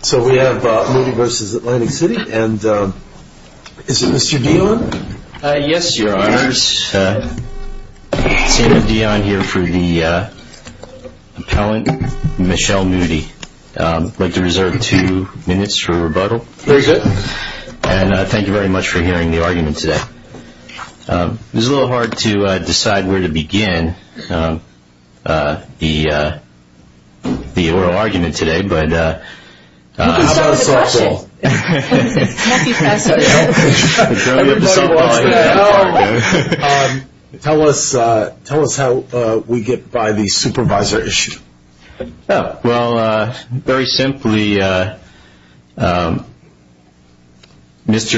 So we have Moody v. Atlantic City and is it Mr. Dion? Yes, your honors. Senator Dion here for the appellant, Michelle Moody. I'd like to reserve two minutes for rebuttal. Very good. And thank you very much for hearing the argument today. It was a little hard to decide where to begin the oral argument today. You can start with the questions. Tell us how we get by the supervisor issue. Well, very simply, Mr.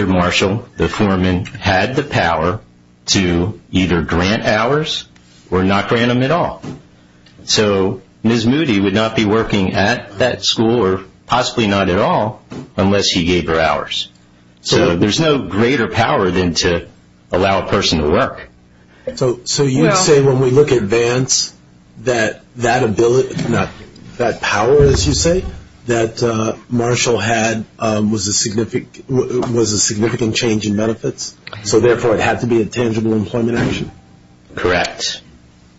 Marshall, the foreman, had the power to either grant hours or not grant them at all. So Ms. Moody would not be working at that school or possibly not at all unless he gave her hours. So there's no greater power than to allow a person to work. So you would say when we look at Vance that that power, as you say, that Marshall had was a significant change in benefits, so therefore it had to be a tangible employment action? Correct.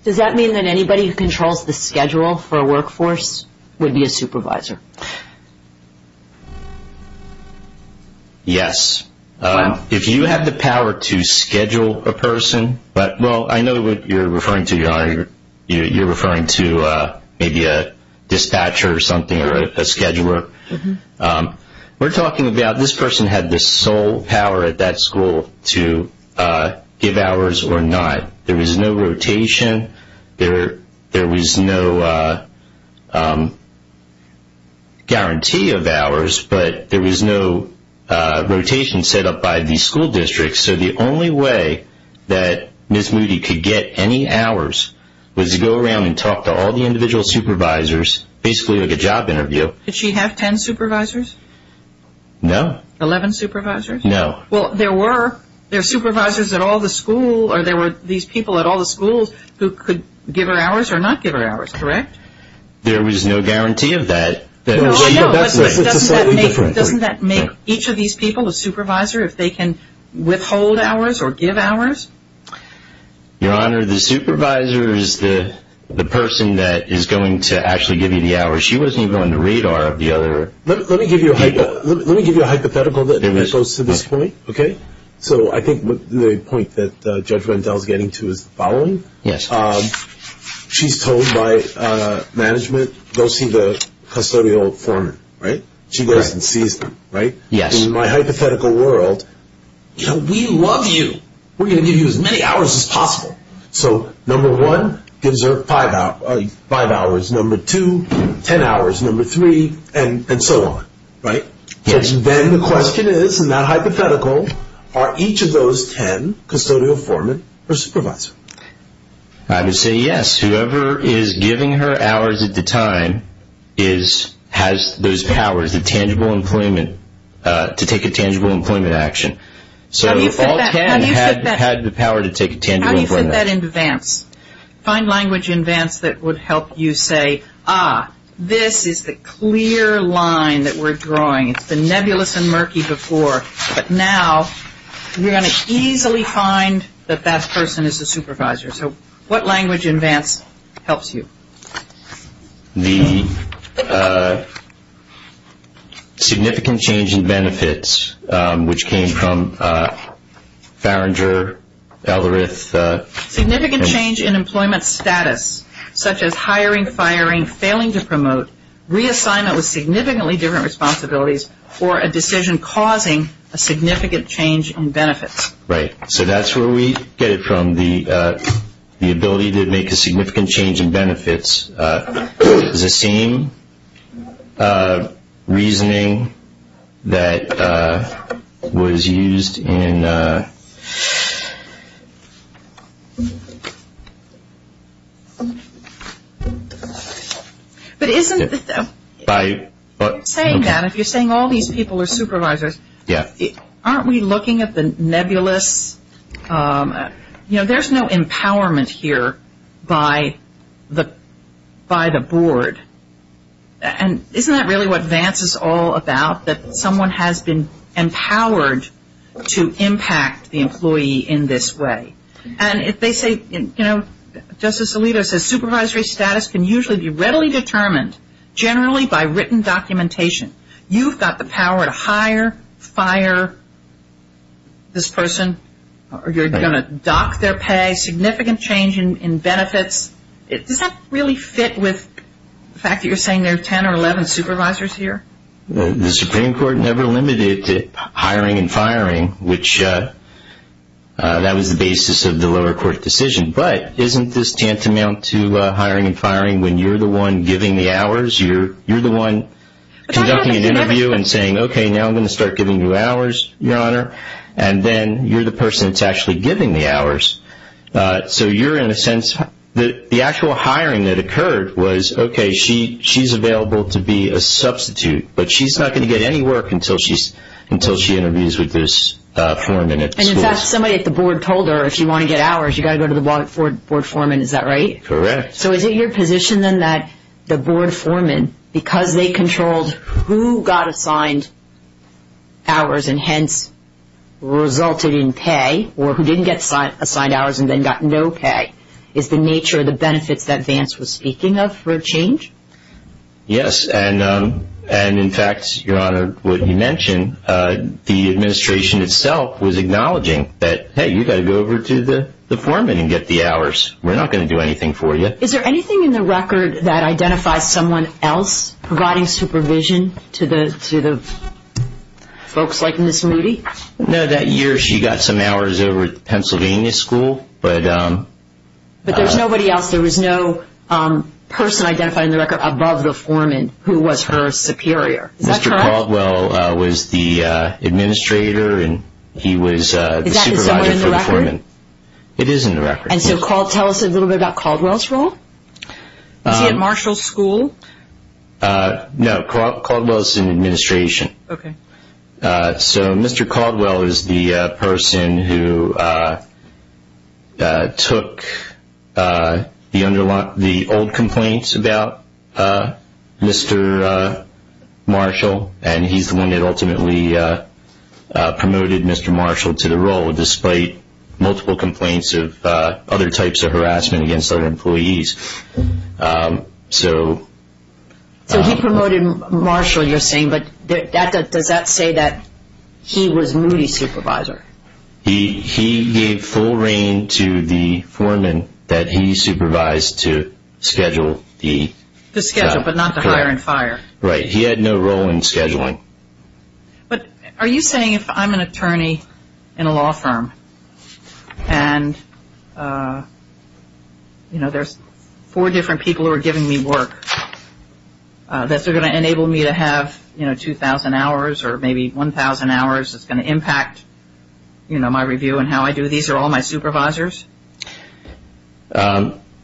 Does that mean that anybody who controls the schedule for a workforce would be a supervisor? Yes. If you have the power to schedule a person, but, well, I know what you're referring to, Your Honor. You're referring to maybe a dispatcher or something or a scheduler. We're talking about this person had the sole power at that school to give hours or not. There was no rotation. There was no guarantee of hours, but there was no rotation set up by the school district. So the only way that Ms. Moody could get any hours was to go around and talk to all the individual supervisors, basically like a job interview. Did she have 10 supervisors? No. 11 supervisors? No. Well, there were. There were supervisors at all the school or there were these people at all the schools who could give her hours or not give her hours, correct? There was no guarantee of that. Doesn't that make each of these people a supervisor if they can withhold hours or give hours? Your Honor, the supervisor is the person that is going to actually give you the hours. She wasn't even on the radar of the other. Let me give you a hypothetical that goes to this point, okay? So I think the point that Judge Rendell is getting to is the following. Yes. She's told by management, go see the custodial foreman, right? She goes and sees them, right? Yes. In my hypothetical world, you know, we love you. We're going to give you as many hours as possible. So number one gives her five hours, number two, 10 hours, number three, and so on, right? Yes. Then the question is in that hypothetical, are each of those 10 custodial foremen her supervisor? I would say yes. Whoever is giving her hours at the time has those powers, the tangible employment, to take a tangible employment action. How do you fit that into Vance? Find language in Vance that would help you say, ah, this is the clear line that we're drawing. It's been nebulous and murky before, but now we're going to easily find that that person is the supervisor. So what language in Vance helps you? The significant change in benefits, which came from Farringer, Ellerith. Significant change in employment status, such as hiring, firing, failing to promote, reassignment with significantly different responsibilities, or a decision causing a significant change in benefits. Right. So that's where we get it from, the ability to make a significant change in benefits. It's the same reasoning that was used in. But isn't it that if you're saying all these people are supervisors, aren't we looking at the nebulous, you know, there's no empowerment here by the board. And isn't that really what Vance is all about, that someone has been empowered to impact the employee in this way? And if they say, you know, Justice Alito says supervisory status can usually be readily determined, generally by written documentation. You've got the power to hire, fire this person. You're going to dock their pay. Significant change in benefits. Does that really fit with the fact that you're saying there are 10 or 11 supervisors here? The Supreme Court never limited it to hiring and firing, which that was the basis of the lower court decision. But isn't this tantamount to hiring and firing when you're the one giving the hours? You're the one conducting an interview and saying, okay, now I'm going to start giving you hours, Your Honor. And then you're the person that's actually giving the hours. So you're, in a sense, the actual hiring that occurred was, okay, she's available to be a substitute, but she's not going to get any work until she interviews with this foreman at the school. And, in fact, somebody at the board told her, if you want to get hours, you've got to go to the board foreman. Is that right? Correct. So is it your position, then, that the board foreman, because they controlled who got assigned hours and hence resulted in pay or who didn't get assigned hours and then got no pay, is the nature of the benefits that Vance was speaking of for a change? Yes. And, in fact, Your Honor, what he mentioned, the administration itself was acknowledging that, hey, you've got to go over to the foreman and get the hours. We're not going to do anything for you. Is there anything in the record that identifies someone else providing supervision to the folks like Ms. Moody? No. That year she got some hours over at Pennsylvania School. But there's nobody else. There was no person identified in the record above the foreman who was her superior. Is that correct? Mr. Caldwell was the administrator and he was the supervisor for the foreman. Is that somewhere in the record? It is in the record. And so tell us a little bit about Caldwell's role. Was he at Marshall School? No. Caldwell was in administration. Okay. So Mr. Caldwell is the person who took the old complaints about Mr. Marshall and he's the one that ultimately promoted Mr. Marshall to the role, despite multiple complaints of other types of harassment against other employees. So he promoted Marshall, you're saying, but does that say that he was Moody's supervisor? He gave full reign to the foreman that he supervised to schedule the- To schedule, but not to hire and fire. Right. He had no role in scheduling. But are you saying if I'm an attorney in a law firm and there's four different people who are giving me work, that they're going to enable me to have 2,000 hours or maybe 1,000 hours that's going to impact my review and how I do these or all my supervisors?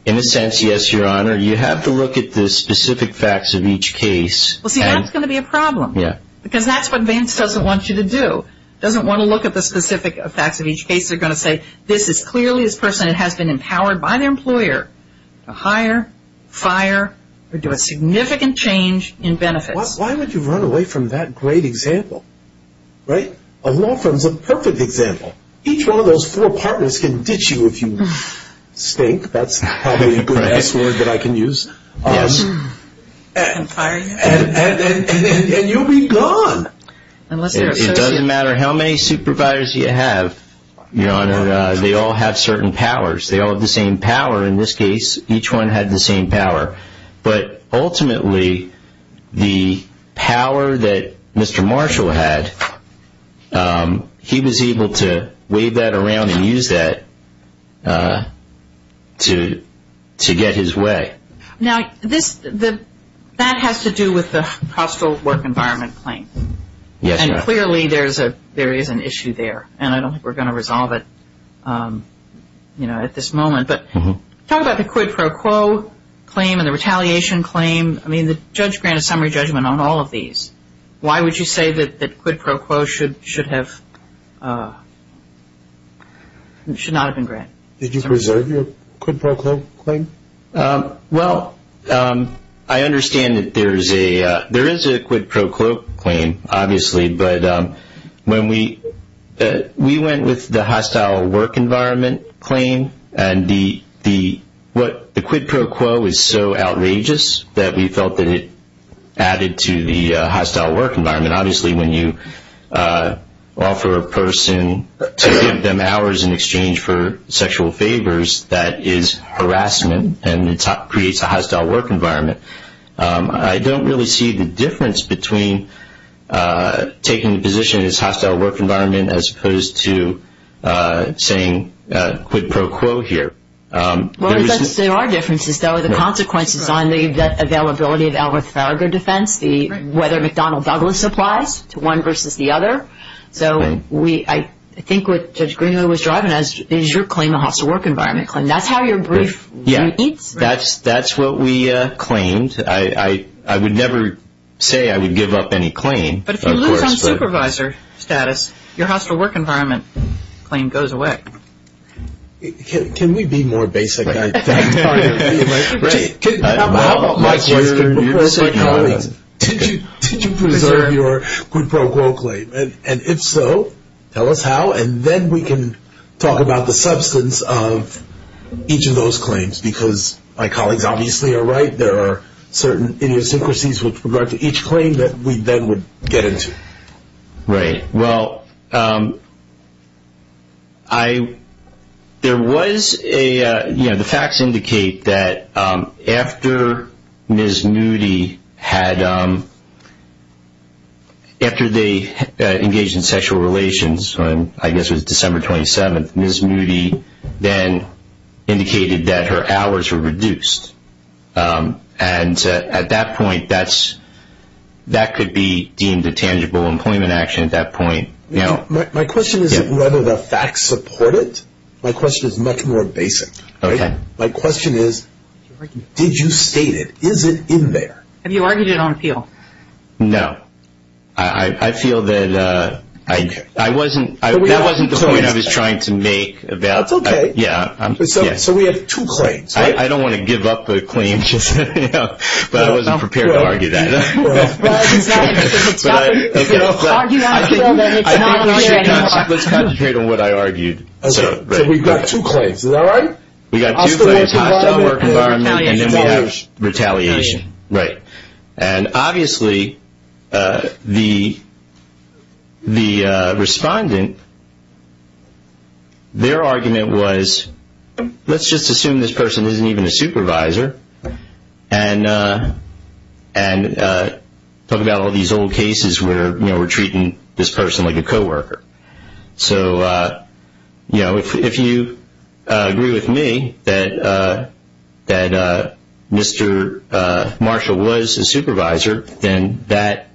In a sense, yes, Your Honor. You have to look at the specific facts of each case. Well, see, that's going to be a problem. Yeah. Because that's what Vance doesn't want you to do. He doesn't want to look at the specific facts of each case. They're going to say this is clearly a person that has been empowered by their employer to hire, fire, or do a significant change in benefits. Why would you run away from that great example, right? A law firm is a perfect example. Each one of those four partners can ditch you if you stink. That's probably the best word that I can use. And you'll be gone. It doesn't matter how many supervisors you have, Your Honor. They all have certain powers. They all have the same power in this case. Each one had the same power. But ultimately, the power that Mr. Marshall had, he was able to wave that around and use that to get his way. Now, that has to do with the hostile work environment claim. Yes, Your Honor. And clearly there is an issue there. And I don't think we're going to resolve it at this moment. But talk about the quid pro quo claim and the retaliation claim. I mean, the judge granted summary judgment on all of these. Why would you say that quid pro quo should not have been granted? Did you preserve your quid pro quo claim? Well, I understand that there is a quid pro quo claim, obviously. But when we went with the hostile work environment claim, and the quid pro quo is so outrageous that we felt that it added to the hostile work environment. Obviously, when you offer a person to give them hours in exchange for sexual favors, that is harassment and it creates a hostile work environment. I don't really see the difference between taking a position in this hostile work environment as opposed to saying quid pro quo here. Well, there are differences, though. The consequences on the availability of Albuquerque defense, whether McDonnell Douglas applies to one versus the other. So I think what Judge Greenwood was driving at is your claim, the hostile work environment claim. That's how your brief repeats. That's what we claimed. I would never say I would give up any claim. But if you lose on supervisor status, your hostile work environment claim goes away. Can we be more basic? How about like your colleagues, did you preserve your quid pro quo claim? And if so, tell us how, and then we can talk about the substance of each of those claims because my colleagues obviously are right, there are certain idiosyncrasies with regard to each claim that we then would get into. Right. Well, there was a, you know, the facts indicate that after Ms. Newdy had, after they engaged in sexual relations, I guess it was December 27th, Ms. Newdy then indicated that her hours were reduced. And at that point, that could be deemed a tangible employment action at that point. My question is whether the facts support it. My question is much more basic. Okay. My question is, did you state it? Is it in there? Have you argued it on appeal? No. I feel that I wasn't, that wasn't the point I was trying to make. That's okay. Yeah. So we have two claims, right? I don't want to give up the claim, but I wasn't prepared to argue that. Well, it's not an argument on appeal. Let's concentrate on what I argued. Okay. So we've got two claims. Is that right? We've got two claims, hostile work environment, and then we have retaliation. Right. And, obviously, the respondent, their argument was, let's just assume this person isn't even a supervisor and talk about all these old cases where we're treating this person like a co-worker. So, you know, if you agree with me that Mr. Marshall was a supervisor, then that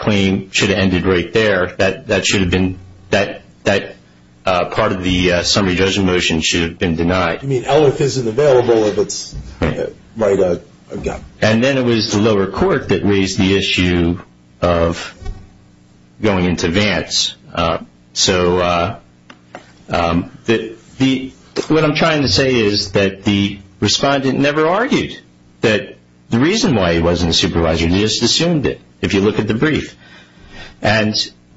claim should have ended right there. That should have been, that part of the summary judgment motion should have been denied. You mean, ELIF isn't available if it's, right, again. And then it was the lower court that raised the issue of going into Vance. So what I'm trying to say is that the respondent never argued that the reason why he wasn't a supervisor. He just assumed it, if you look at the brief. And,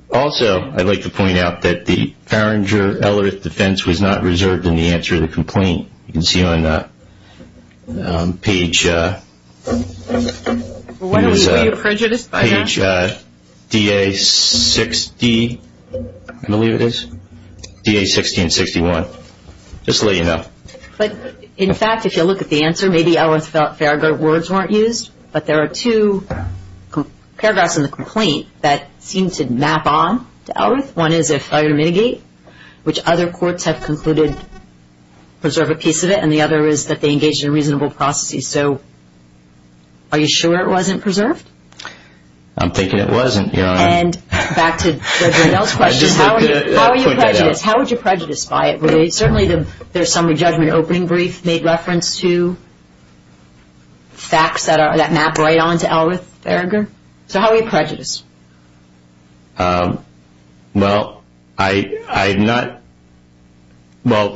also, I'd like to point out that the Farringer-Ellerith defense was not reserved in the answer to the complaint. You can see on page DA60, I believe it is, DA60 and 61. Just to let you know. But, in fact, if you look at the answer, maybe Ellerith-Farringer words weren't used, but there are two paragraphs in the complaint that seem to map on to Ellerith. One is, if I were to mitigate, which other courts have concluded preserve a piece of it, and the other is that they engaged in a reasonable process. So are you sure it wasn't preserved? I'm thinking it wasn't, Your Honor. And, back to Judge Riddell's question, how would you prejudice by it? Certainly the summary judgment opening brief made reference to facts that map right on to Ellerith-Farringer. So how would you prejudice? Well,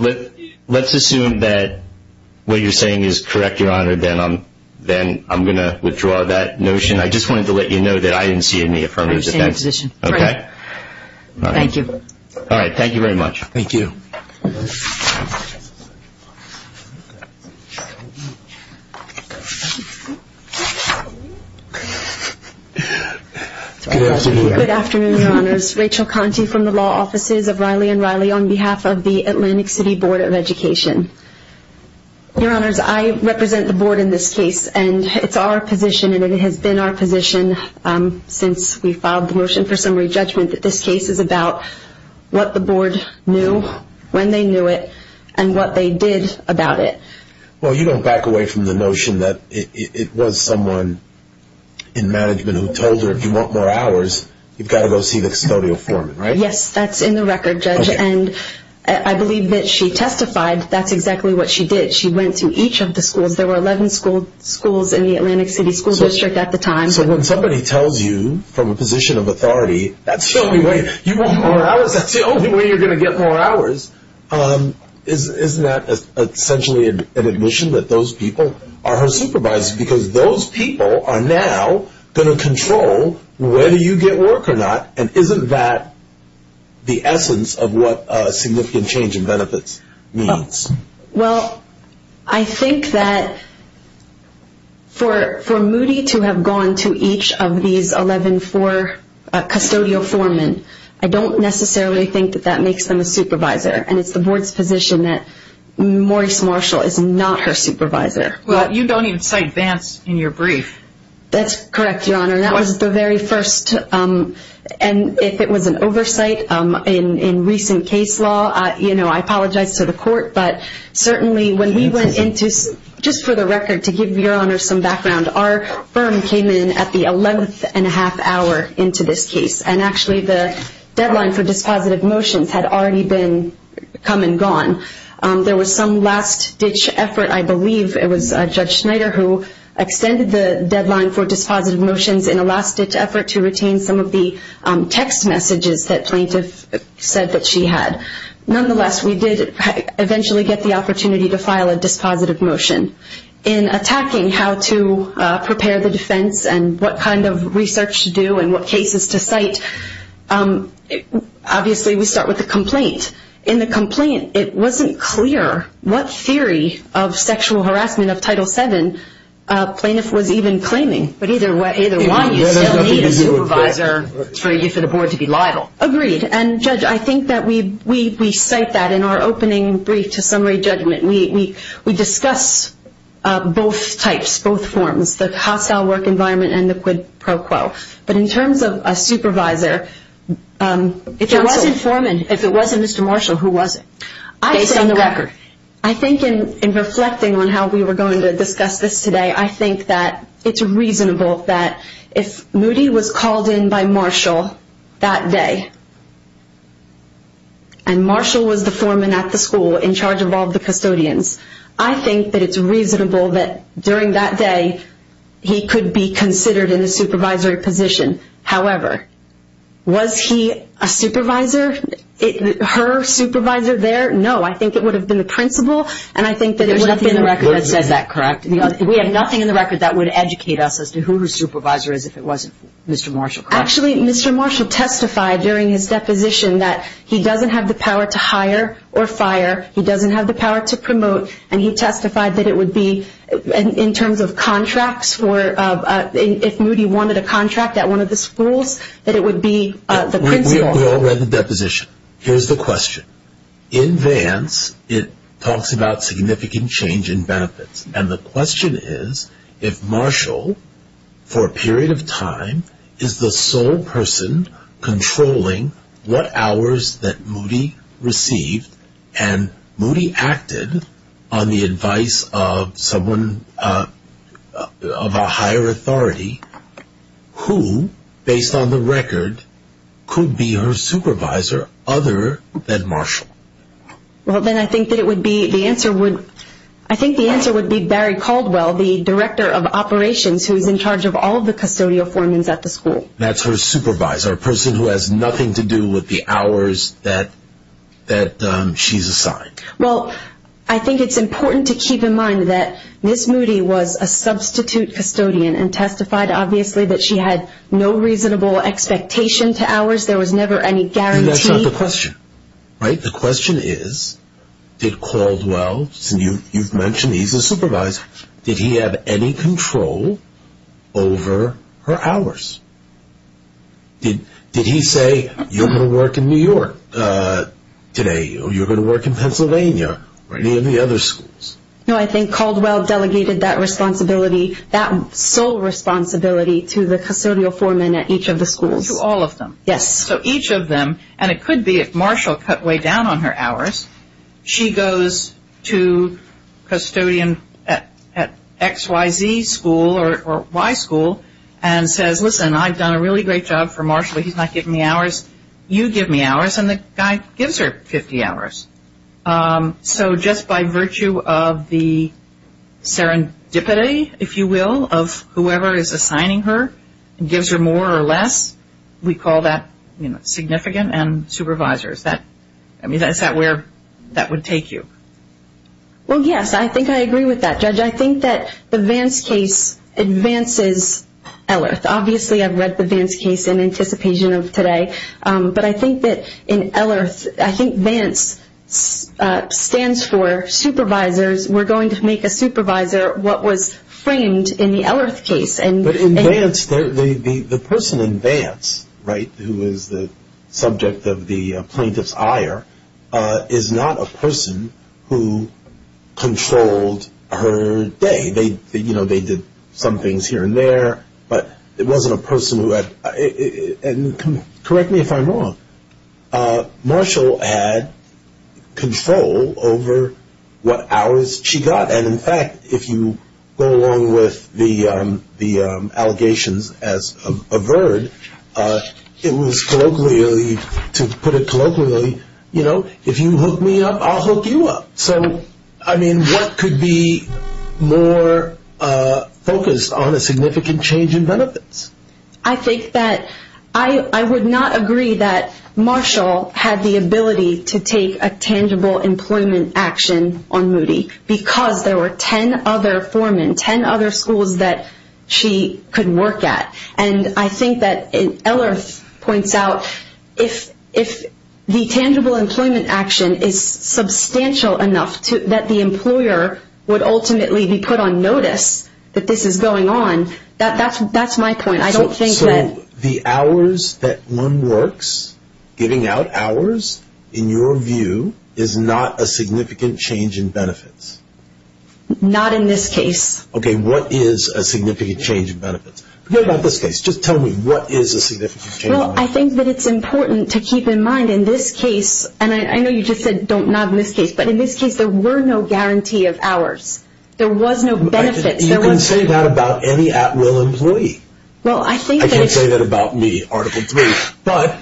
let's assume that what you're saying is correct, Your Honor. Then I'm going to withdraw that notion. I just wanted to let you know that I didn't see any affirmative defense. I understand your position. Thank you. All right. Thank you very much. Thank you. Thank you. Good afternoon, Your Honors. Rachel Conti from the Law Offices of Riley & Riley on behalf of the Atlantic City Board of Education. Your Honors, I represent the Board in this case, and it's our position, and it has been our position since we filed the motion for summary judgment, that this case is about what the Board knew when they knew it and what they did about it. Well, you don't back away from the notion that it was someone in management who told her, if you want more hours, you've got to go see the custodial foreman, right? Yes, that's in the record, Judge, and I believe that she testified that's exactly what she did. She went to each of the schools. There were 11 schools in the Atlantic City School District at the time. So when somebody tells you from a position of authority that's the only way you want more hours, that's the only way you're going to get more hours, isn't that essentially an admission that those people are her supervisors? Because those people are now going to control whether you get work or not, and isn't that the essence of what significant change in benefits means? Well, I think that for Moody to have gone to each of these 11 custodial foremen, I don't necessarily think that that makes them a supervisor, and it's the Board's position that Maurice Marshall is not her supervisor. Well, you don't even cite Vance in your brief. That's correct, Your Honor. That was the very first, and if it was an oversight in recent case law, I apologize to the court, but certainly when we went into, just for the record, to give Your Honor some background, our firm came in at the 11th and a half hour into this case, and actually the deadline for dispositive motions had already come and gone. There was some last-ditch effort, I believe it was Judge Schneider who extended the deadline for dispositive motions in a last-ditch effort to retain some of the text messages that plaintiff said that she had. Nonetheless, we did eventually get the opportunity to file a dispositive motion. In attacking how to prepare the defense and what kind of research to do and what cases to cite, obviously we start with the complaint. In the complaint, it wasn't clear what theory of sexual harassment of Title VII plaintiff was even claiming, but either way, you still need a supervisor for the Board to be liable. Agreed, and Judge, I think that we cite that in our opening brief to summary judgment. We discuss both types, both forms, the hostile work environment and the quid pro quo. But in terms of a supervisor, if it wasn't Forman, if it wasn't Mr. Marshall, who was it, based on the record? I think in reflecting on how we were going to discuss this today, I think that it's reasonable that if Moody was called in by Marshall that day, and Marshall was the foreman at the school in charge of all the custodians, I think that it's reasonable that during that day he could be considered in the supervisory position. However, was he a supervisor, her supervisor there? No, I think it would have been the principal. There's nothing in the record that says that, correct? We have nothing in the record that would educate us as to who the supervisor is if it wasn't Mr. Marshall, correct? Actually, Mr. Marshall testified during his deposition that he doesn't have the power to hire or fire, he doesn't have the power to promote, and he testified that it would be, in terms of contracts, if Moody wanted a contract at one of the schools, that it would be the principal. We all read the deposition. Here's the question. In Vance, it talks about significant change in benefits, and the question is if Marshall, for a period of time, is the sole person controlling what hours that Moody received, and Moody acted on the advice of someone of a higher authority, who, based on the record, could be her supervisor other than Marshall? Well, then I think the answer would be Barry Caldwell, the director of operations, who's in charge of all of the custodial foremans at the school. That's her supervisor, a person who has nothing to do with the hours that she's assigned. Well, I think it's important to keep in mind that Miss Moody was a substitute custodian and testified, obviously, that she had no reasonable expectation to hours. There was never any guarantee. That's not the question, right? The question is, did Caldwell, you've mentioned he's a supervisor, did he have any control over her hours? Did he say, you're going to work in New York today, or you're going to work in Pennsylvania, or any of the other schools? No, I think Caldwell delegated that responsibility, that sole responsibility, to the custodial foreman at each of the schools. To all of them. Yes. So each of them, and it could be if Marshall cut way down on her hours, she goes to custodian at XYZ school or Y school and says, listen, I've done a really great job for Marshall. He's not giving me hours. You give me hours. And the guy gives her 50 hours. So just by virtue of the serendipity, if you will, of whoever is assigning her, and gives her more or less, we call that significant and supervisor. Is that where that would take you? Well, yes, I think I agree with that, Judge. I think that the Vance case advances LIRTH. Obviously, I've read the Vance case in anticipation of today. But I think that in LIRTH, I think Vance stands for supervisors. We're going to make a supervisor what was framed in the LIRTH case. But in Vance, the person in Vance, right, who is the subject of the plaintiff's ire, is not a person who controlled her day. You know, they did some things here and there, but it wasn't a person who had ‑‑ and correct me if I'm wrong, Marshall had control over what hours she got. And, in fact, if you go along with the allegations as averred, it was colloquially, to put it colloquially, you know, if you hook me up, I'll hook you up. So, I mean, what could be more focused on a significant change in benefits? I think that I would not agree that Marshall had the ability to take a tangible employment action on Moody because there were 10 other foremen, 10 other schools that she could work at. And I think that LIRTH points out if the tangible employment action is substantial enough that the employer would ultimately be put on notice that this is going on, that's my point. So, the hours that one works, giving out hours, in your view, is not a significant change in benefits? Not in this case. Okay, what is a significant change in benefits? Forget about this case. Just tell me, what is a significant change in benefits? Well, I think that it's important to keep in mind in this case, and I know you just said not in this case, but in this case there were no guarantee of hours. There was no benefits. You can say that about any at-will employee. I can't say that about me, Article 3. But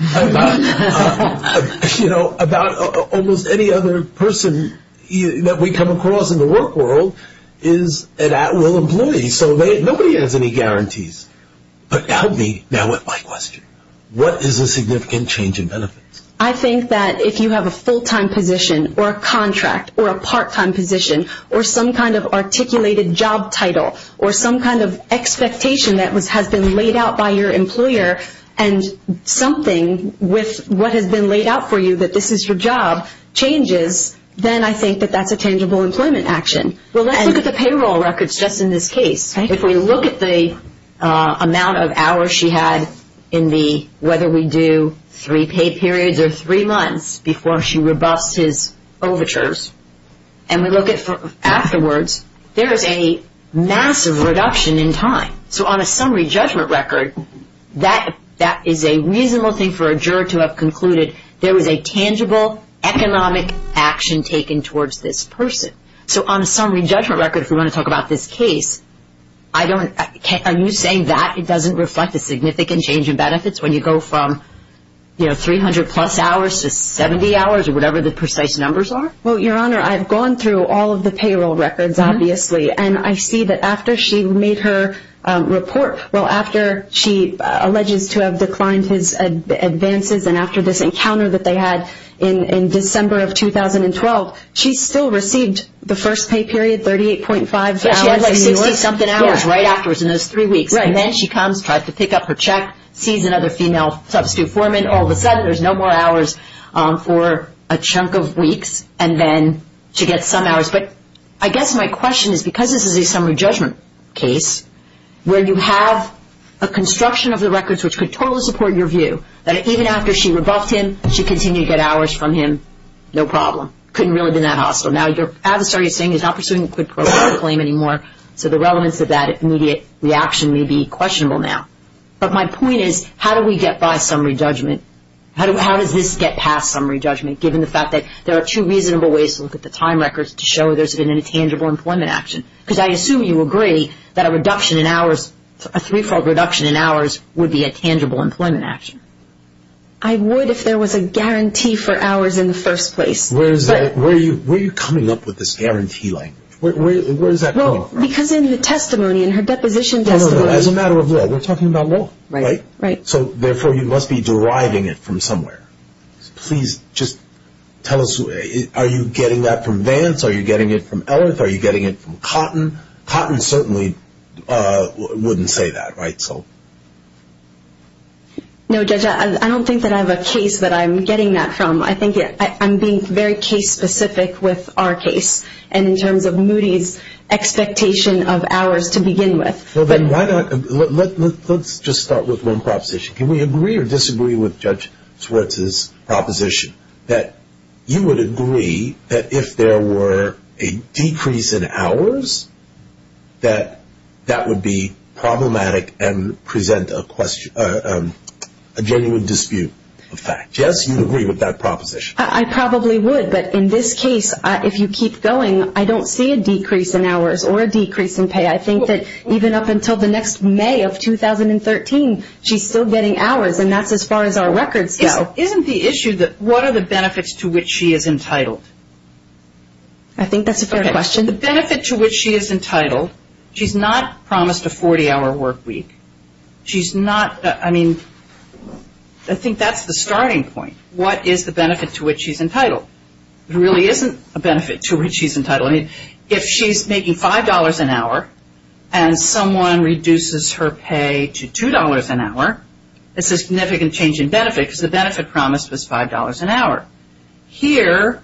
about almost any other person that we come across in the work world is an at-will employee. So, nobody has any guarantees. But help me now with my question. What is a significant change in benefits? I think that if you have a full-time position or a contract or a part-time position or some kind of articulated job title or some kind of expectation that has been laid out by your employer and something with what has been laid out for you, that this is your job, changes, then I think that that's a tangible employment action. Well, let's look at the payroll records just in this case. If we look at the amount of hours she had in the, whether we do three pay periods or three months, before she rebuffs his overtures, and we look at afterwards, there is a massive reduction in time. So, on a summary judgment record, that is a reasonable thing for a juror to have concluded there was a tangible economic action taken towards this person. So, on a summary judgment record, if we want to talk about this case, I don't, are you saying that it doesn't reflect a significant change in benefits when you go from, you know, 300-plus hours to 70 hours or whatever the precise numbers are? Well, Your Honor, I've gone through all of the payroll records, obviously, and I see that after she made her report, well, after she alleges to have declined his advances and after this encounter that they had in December of 2012, she still received the first pay period, 38.5 hours. But she had like 60-something hours right afterwards in those three weeks. And then she comes, tries to pick up her check, sees another female substitute foreman. All of a sudden, there's no more hours for a chunk of weeks and then to get some hours. But I guess my question is, because this is a summary judgment case where you have a construction of the records which could totally support your view, that even after she rebuffed him, she continued to get hours from him, no problem. Couldn't really have been that hostile. Now, your adversary is saying he's not pursuing a quid pro quo claim anymore, so the relevance of that immediate reaction may be questionable now. But my point is, how do we get by summary judgment? How does this get past summary judgment given the fact that there are two reasonable ways to look at the time records to show there's been a tangible employment action? Because I assume you agree that a reduction in hours, a three-fold reduction in hours, would be a tangible employment action. I would if there was a guarantee for hours in the first place. Where are you coming up with this guarantee language? Where does that come from? Because in the testimony, in her deposition testimony... No, no, no, as a matter of law, we're talking about law. Right, right. So, therefore, you must be deriving it from somewhere. Please just tell us, are you getting that from Vance? Are you getting it from Ellert? Are you getting it from Cotton? Cotton certainly wouldn't say that, right? No, Judge, I don't think that I have a case that I'm getting that from. I think I'm being very case-specific with our case, and in terms of Moody's expectation of hours to begin with. Well, then, let's just start with one proposition. Can we agree or disagree with Judge Swartz's proposition that you would agree that if there were a decrease in hours, that that would be problematic and present a genuine dispute of fact? Jess, do you agree with that proposition? I probably would, but in this case, if you keep going, I don't see a decrease in hours or a decrease in pay. I think that even up until the next May of 2013, she's still getting hours, and that's as far as our records go. Isn't the issue that what are the benefits to which she is entitled? I think that's a fair question. The benefit to which she is entitled, she's not promised a 40-hour work week. She's not, I mean, I think that's the starting point. What is the benefit to which she's entitled? There really isn't a benefit to which she's entitled. I mean, if she's making $5 an hour and someone reduces her pay to $2 an hour, it's a significant change in benefit because the benefit promised was $5 an hour. Here,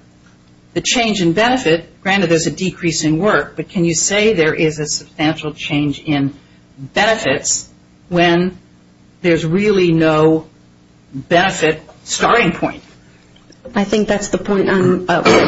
the change in benefit, granted there's a decrease in work, but can you say there is a substantial change in benefits when there's really no benefit starting point? I think that's the point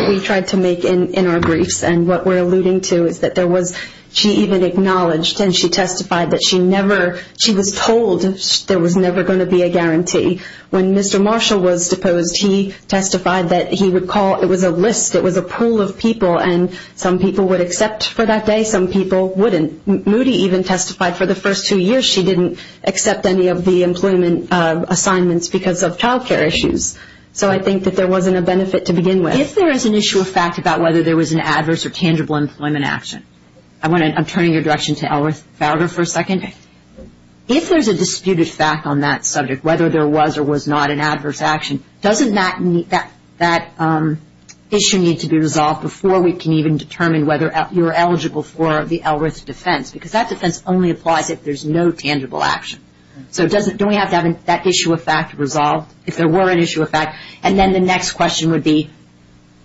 we tried to make in our briefs, and what we're alluding to is that there was, she even acknowledged and she testified that she never, she was told there was never going to be a guarantee. When Mr. Marshall was deposed, he testified that he would call, it was a list, it was a pool of people, and some people would accept for that day, some people wouldn't. Moody even testified for the first two years she didn't accept any of the employment assignments because of child care issues. So I think that there wasn't a benefit to begin with. If there is an issue of fact about whether there was an adverse or tangible employment action, I'm turning your direction to Elmer Fowler for a second. If there's a disputed fact on that subject, whether there was or was not an adverse action, doesn't that issue need to be resolved before we can even determine whether you're eligible for the ELRITH defense? Because that defense only applies if there's no tangible action. So don't we have to have that issue of fact resolved, if there were an issue of fact? And then the next question would be,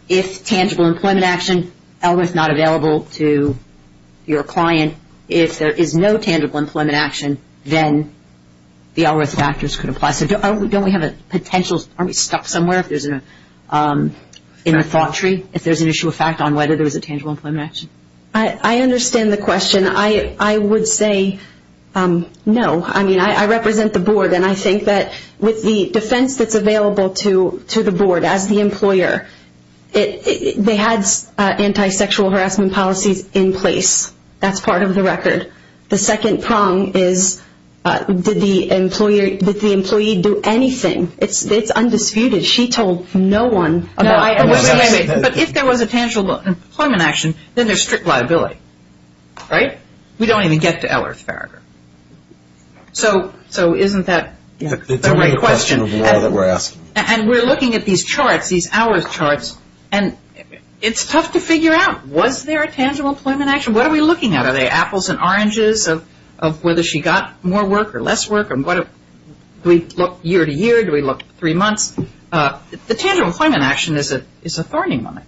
if tangible employment action, ELRITH not available to your client, if there is no tangible employment action, then the ELRITH factors could apply. So don't we have a potential, aren't we stuck somewhere in the thought tree, if there's an issue of fact on whether there was a tangible employment action? I understand the question. I would say no. I mean, I represent the board, and I think that with the defense that's available to the board as the employer, they had anti-sexual harassment policies in place. That's part of the record. The second prong is, did the employee do anything? It's undisputed. She told no one. But if there was a tangible employment action, then there's strict liability, right? We don't even get to ELRITH factor. So isn't that a great question? It's a great question of why that we're asking. And we're looking at these charts, these ELRITH charts, and it's tough to figure out. Was there a tangible employment action? What are we looking at? Are they apples and oranges of whether she got more work or less work? Do we look year to year? Do we look three months? The tangible employment action is a thorny one.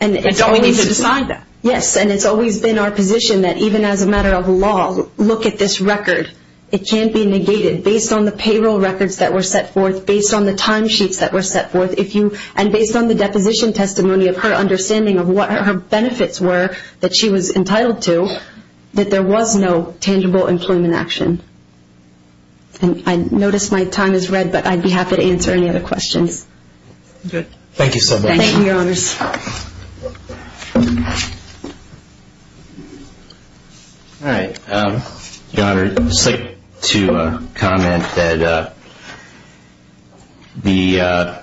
And don't we need to decide that? Yes, and it's always been our position that even as a matter of law, look at this record. It can't be negated based on the payroll records that were set forth, based on the timesheets that were set forth, and based on the deposition testimony of her understanding of what her benefits were that she was entitled to, that there was no tangible employment action. And I notice my time is red, but I'd be happy to answer any other questions. Good. Thank you so much. Thank you, Your Honors. All right. Your Honor, I'd just like to comment that the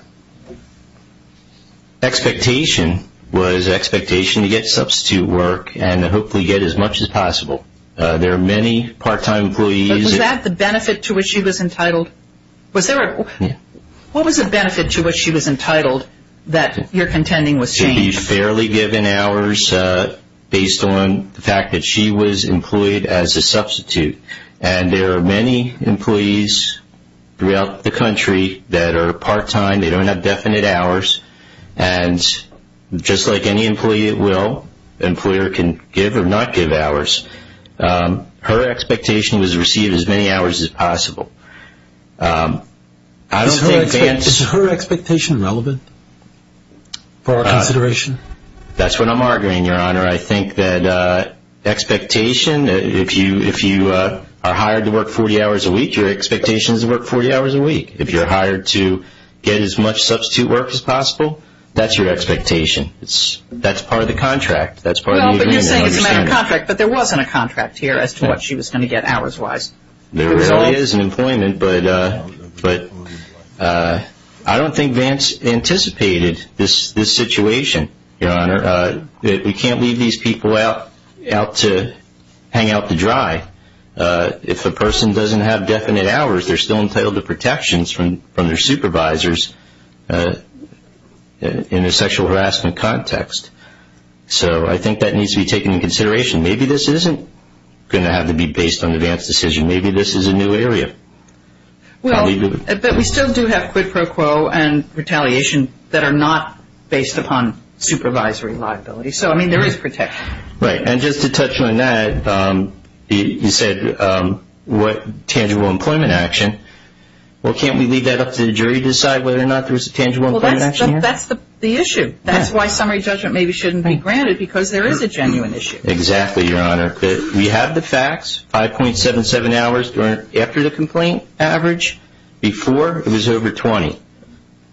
expectation was expectation to get substitute work and hopefully get as much as possible. There are many part-time employees. But was that the benefit to which she was entitled? What was the benefit to which she was entitled that your contending was changed? She was fairly given hours based on the fact that she was employed as a substitute. And there are many employees throughout the country that are part-time. They don't have definite hours. And just like any employee at will, the employer can give or not give hours. Her expectation was to receive as many hours as possible. Is her expectation relevant for our consideration? That's what I'm arguing, Your Honor. I think that expectation, if you are hired to work 40 hours a week, your expectation is to work 40 hours a week. If you're hired to get as much substitute work as possible, that's your expectation. That's part of the contract. That's part of the agreement. Well, but you're saying it's a matter of contract. But there wasn't a contract here as to what she was going to get hours-wise. There really is an employment, but I don't think Vance anticipated this situation, Your Honor. We can't leave these people out to hang out to dry. If a person doesn't have definite hours, they're still entitled to protections from their supervisors in a sexual harassment context. So I think that needs to be taken into consideration. Maybe this isn't going to have to be based on Vance's decision. Maybe this is a new area. But we still do have quid pro quo and retaliation that are not based upon supervisory liability. So, I mean, there is protection. Right. And just to touch on that, you said tangible employment action. Well, can't we leave that up to the jury to decide whether or not there's a tangible employment action here? Well, that's the issue. That's why summary judgment maybe shouldn't be granted because there is a genuine issue. Exactly, Your Honor. We have the facts. 5.77 hours after the complaint average. Before, it was over 20.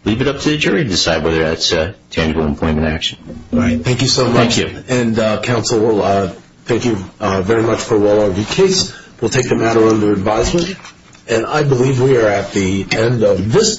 Leave it up to the jury to decide whether that's a tangible employment action. All right. Thank you so much. Thank you. And, Counsel, thank you very much for a well-argued case. We'll take the matter under advisement. And I believe we are at the end of this.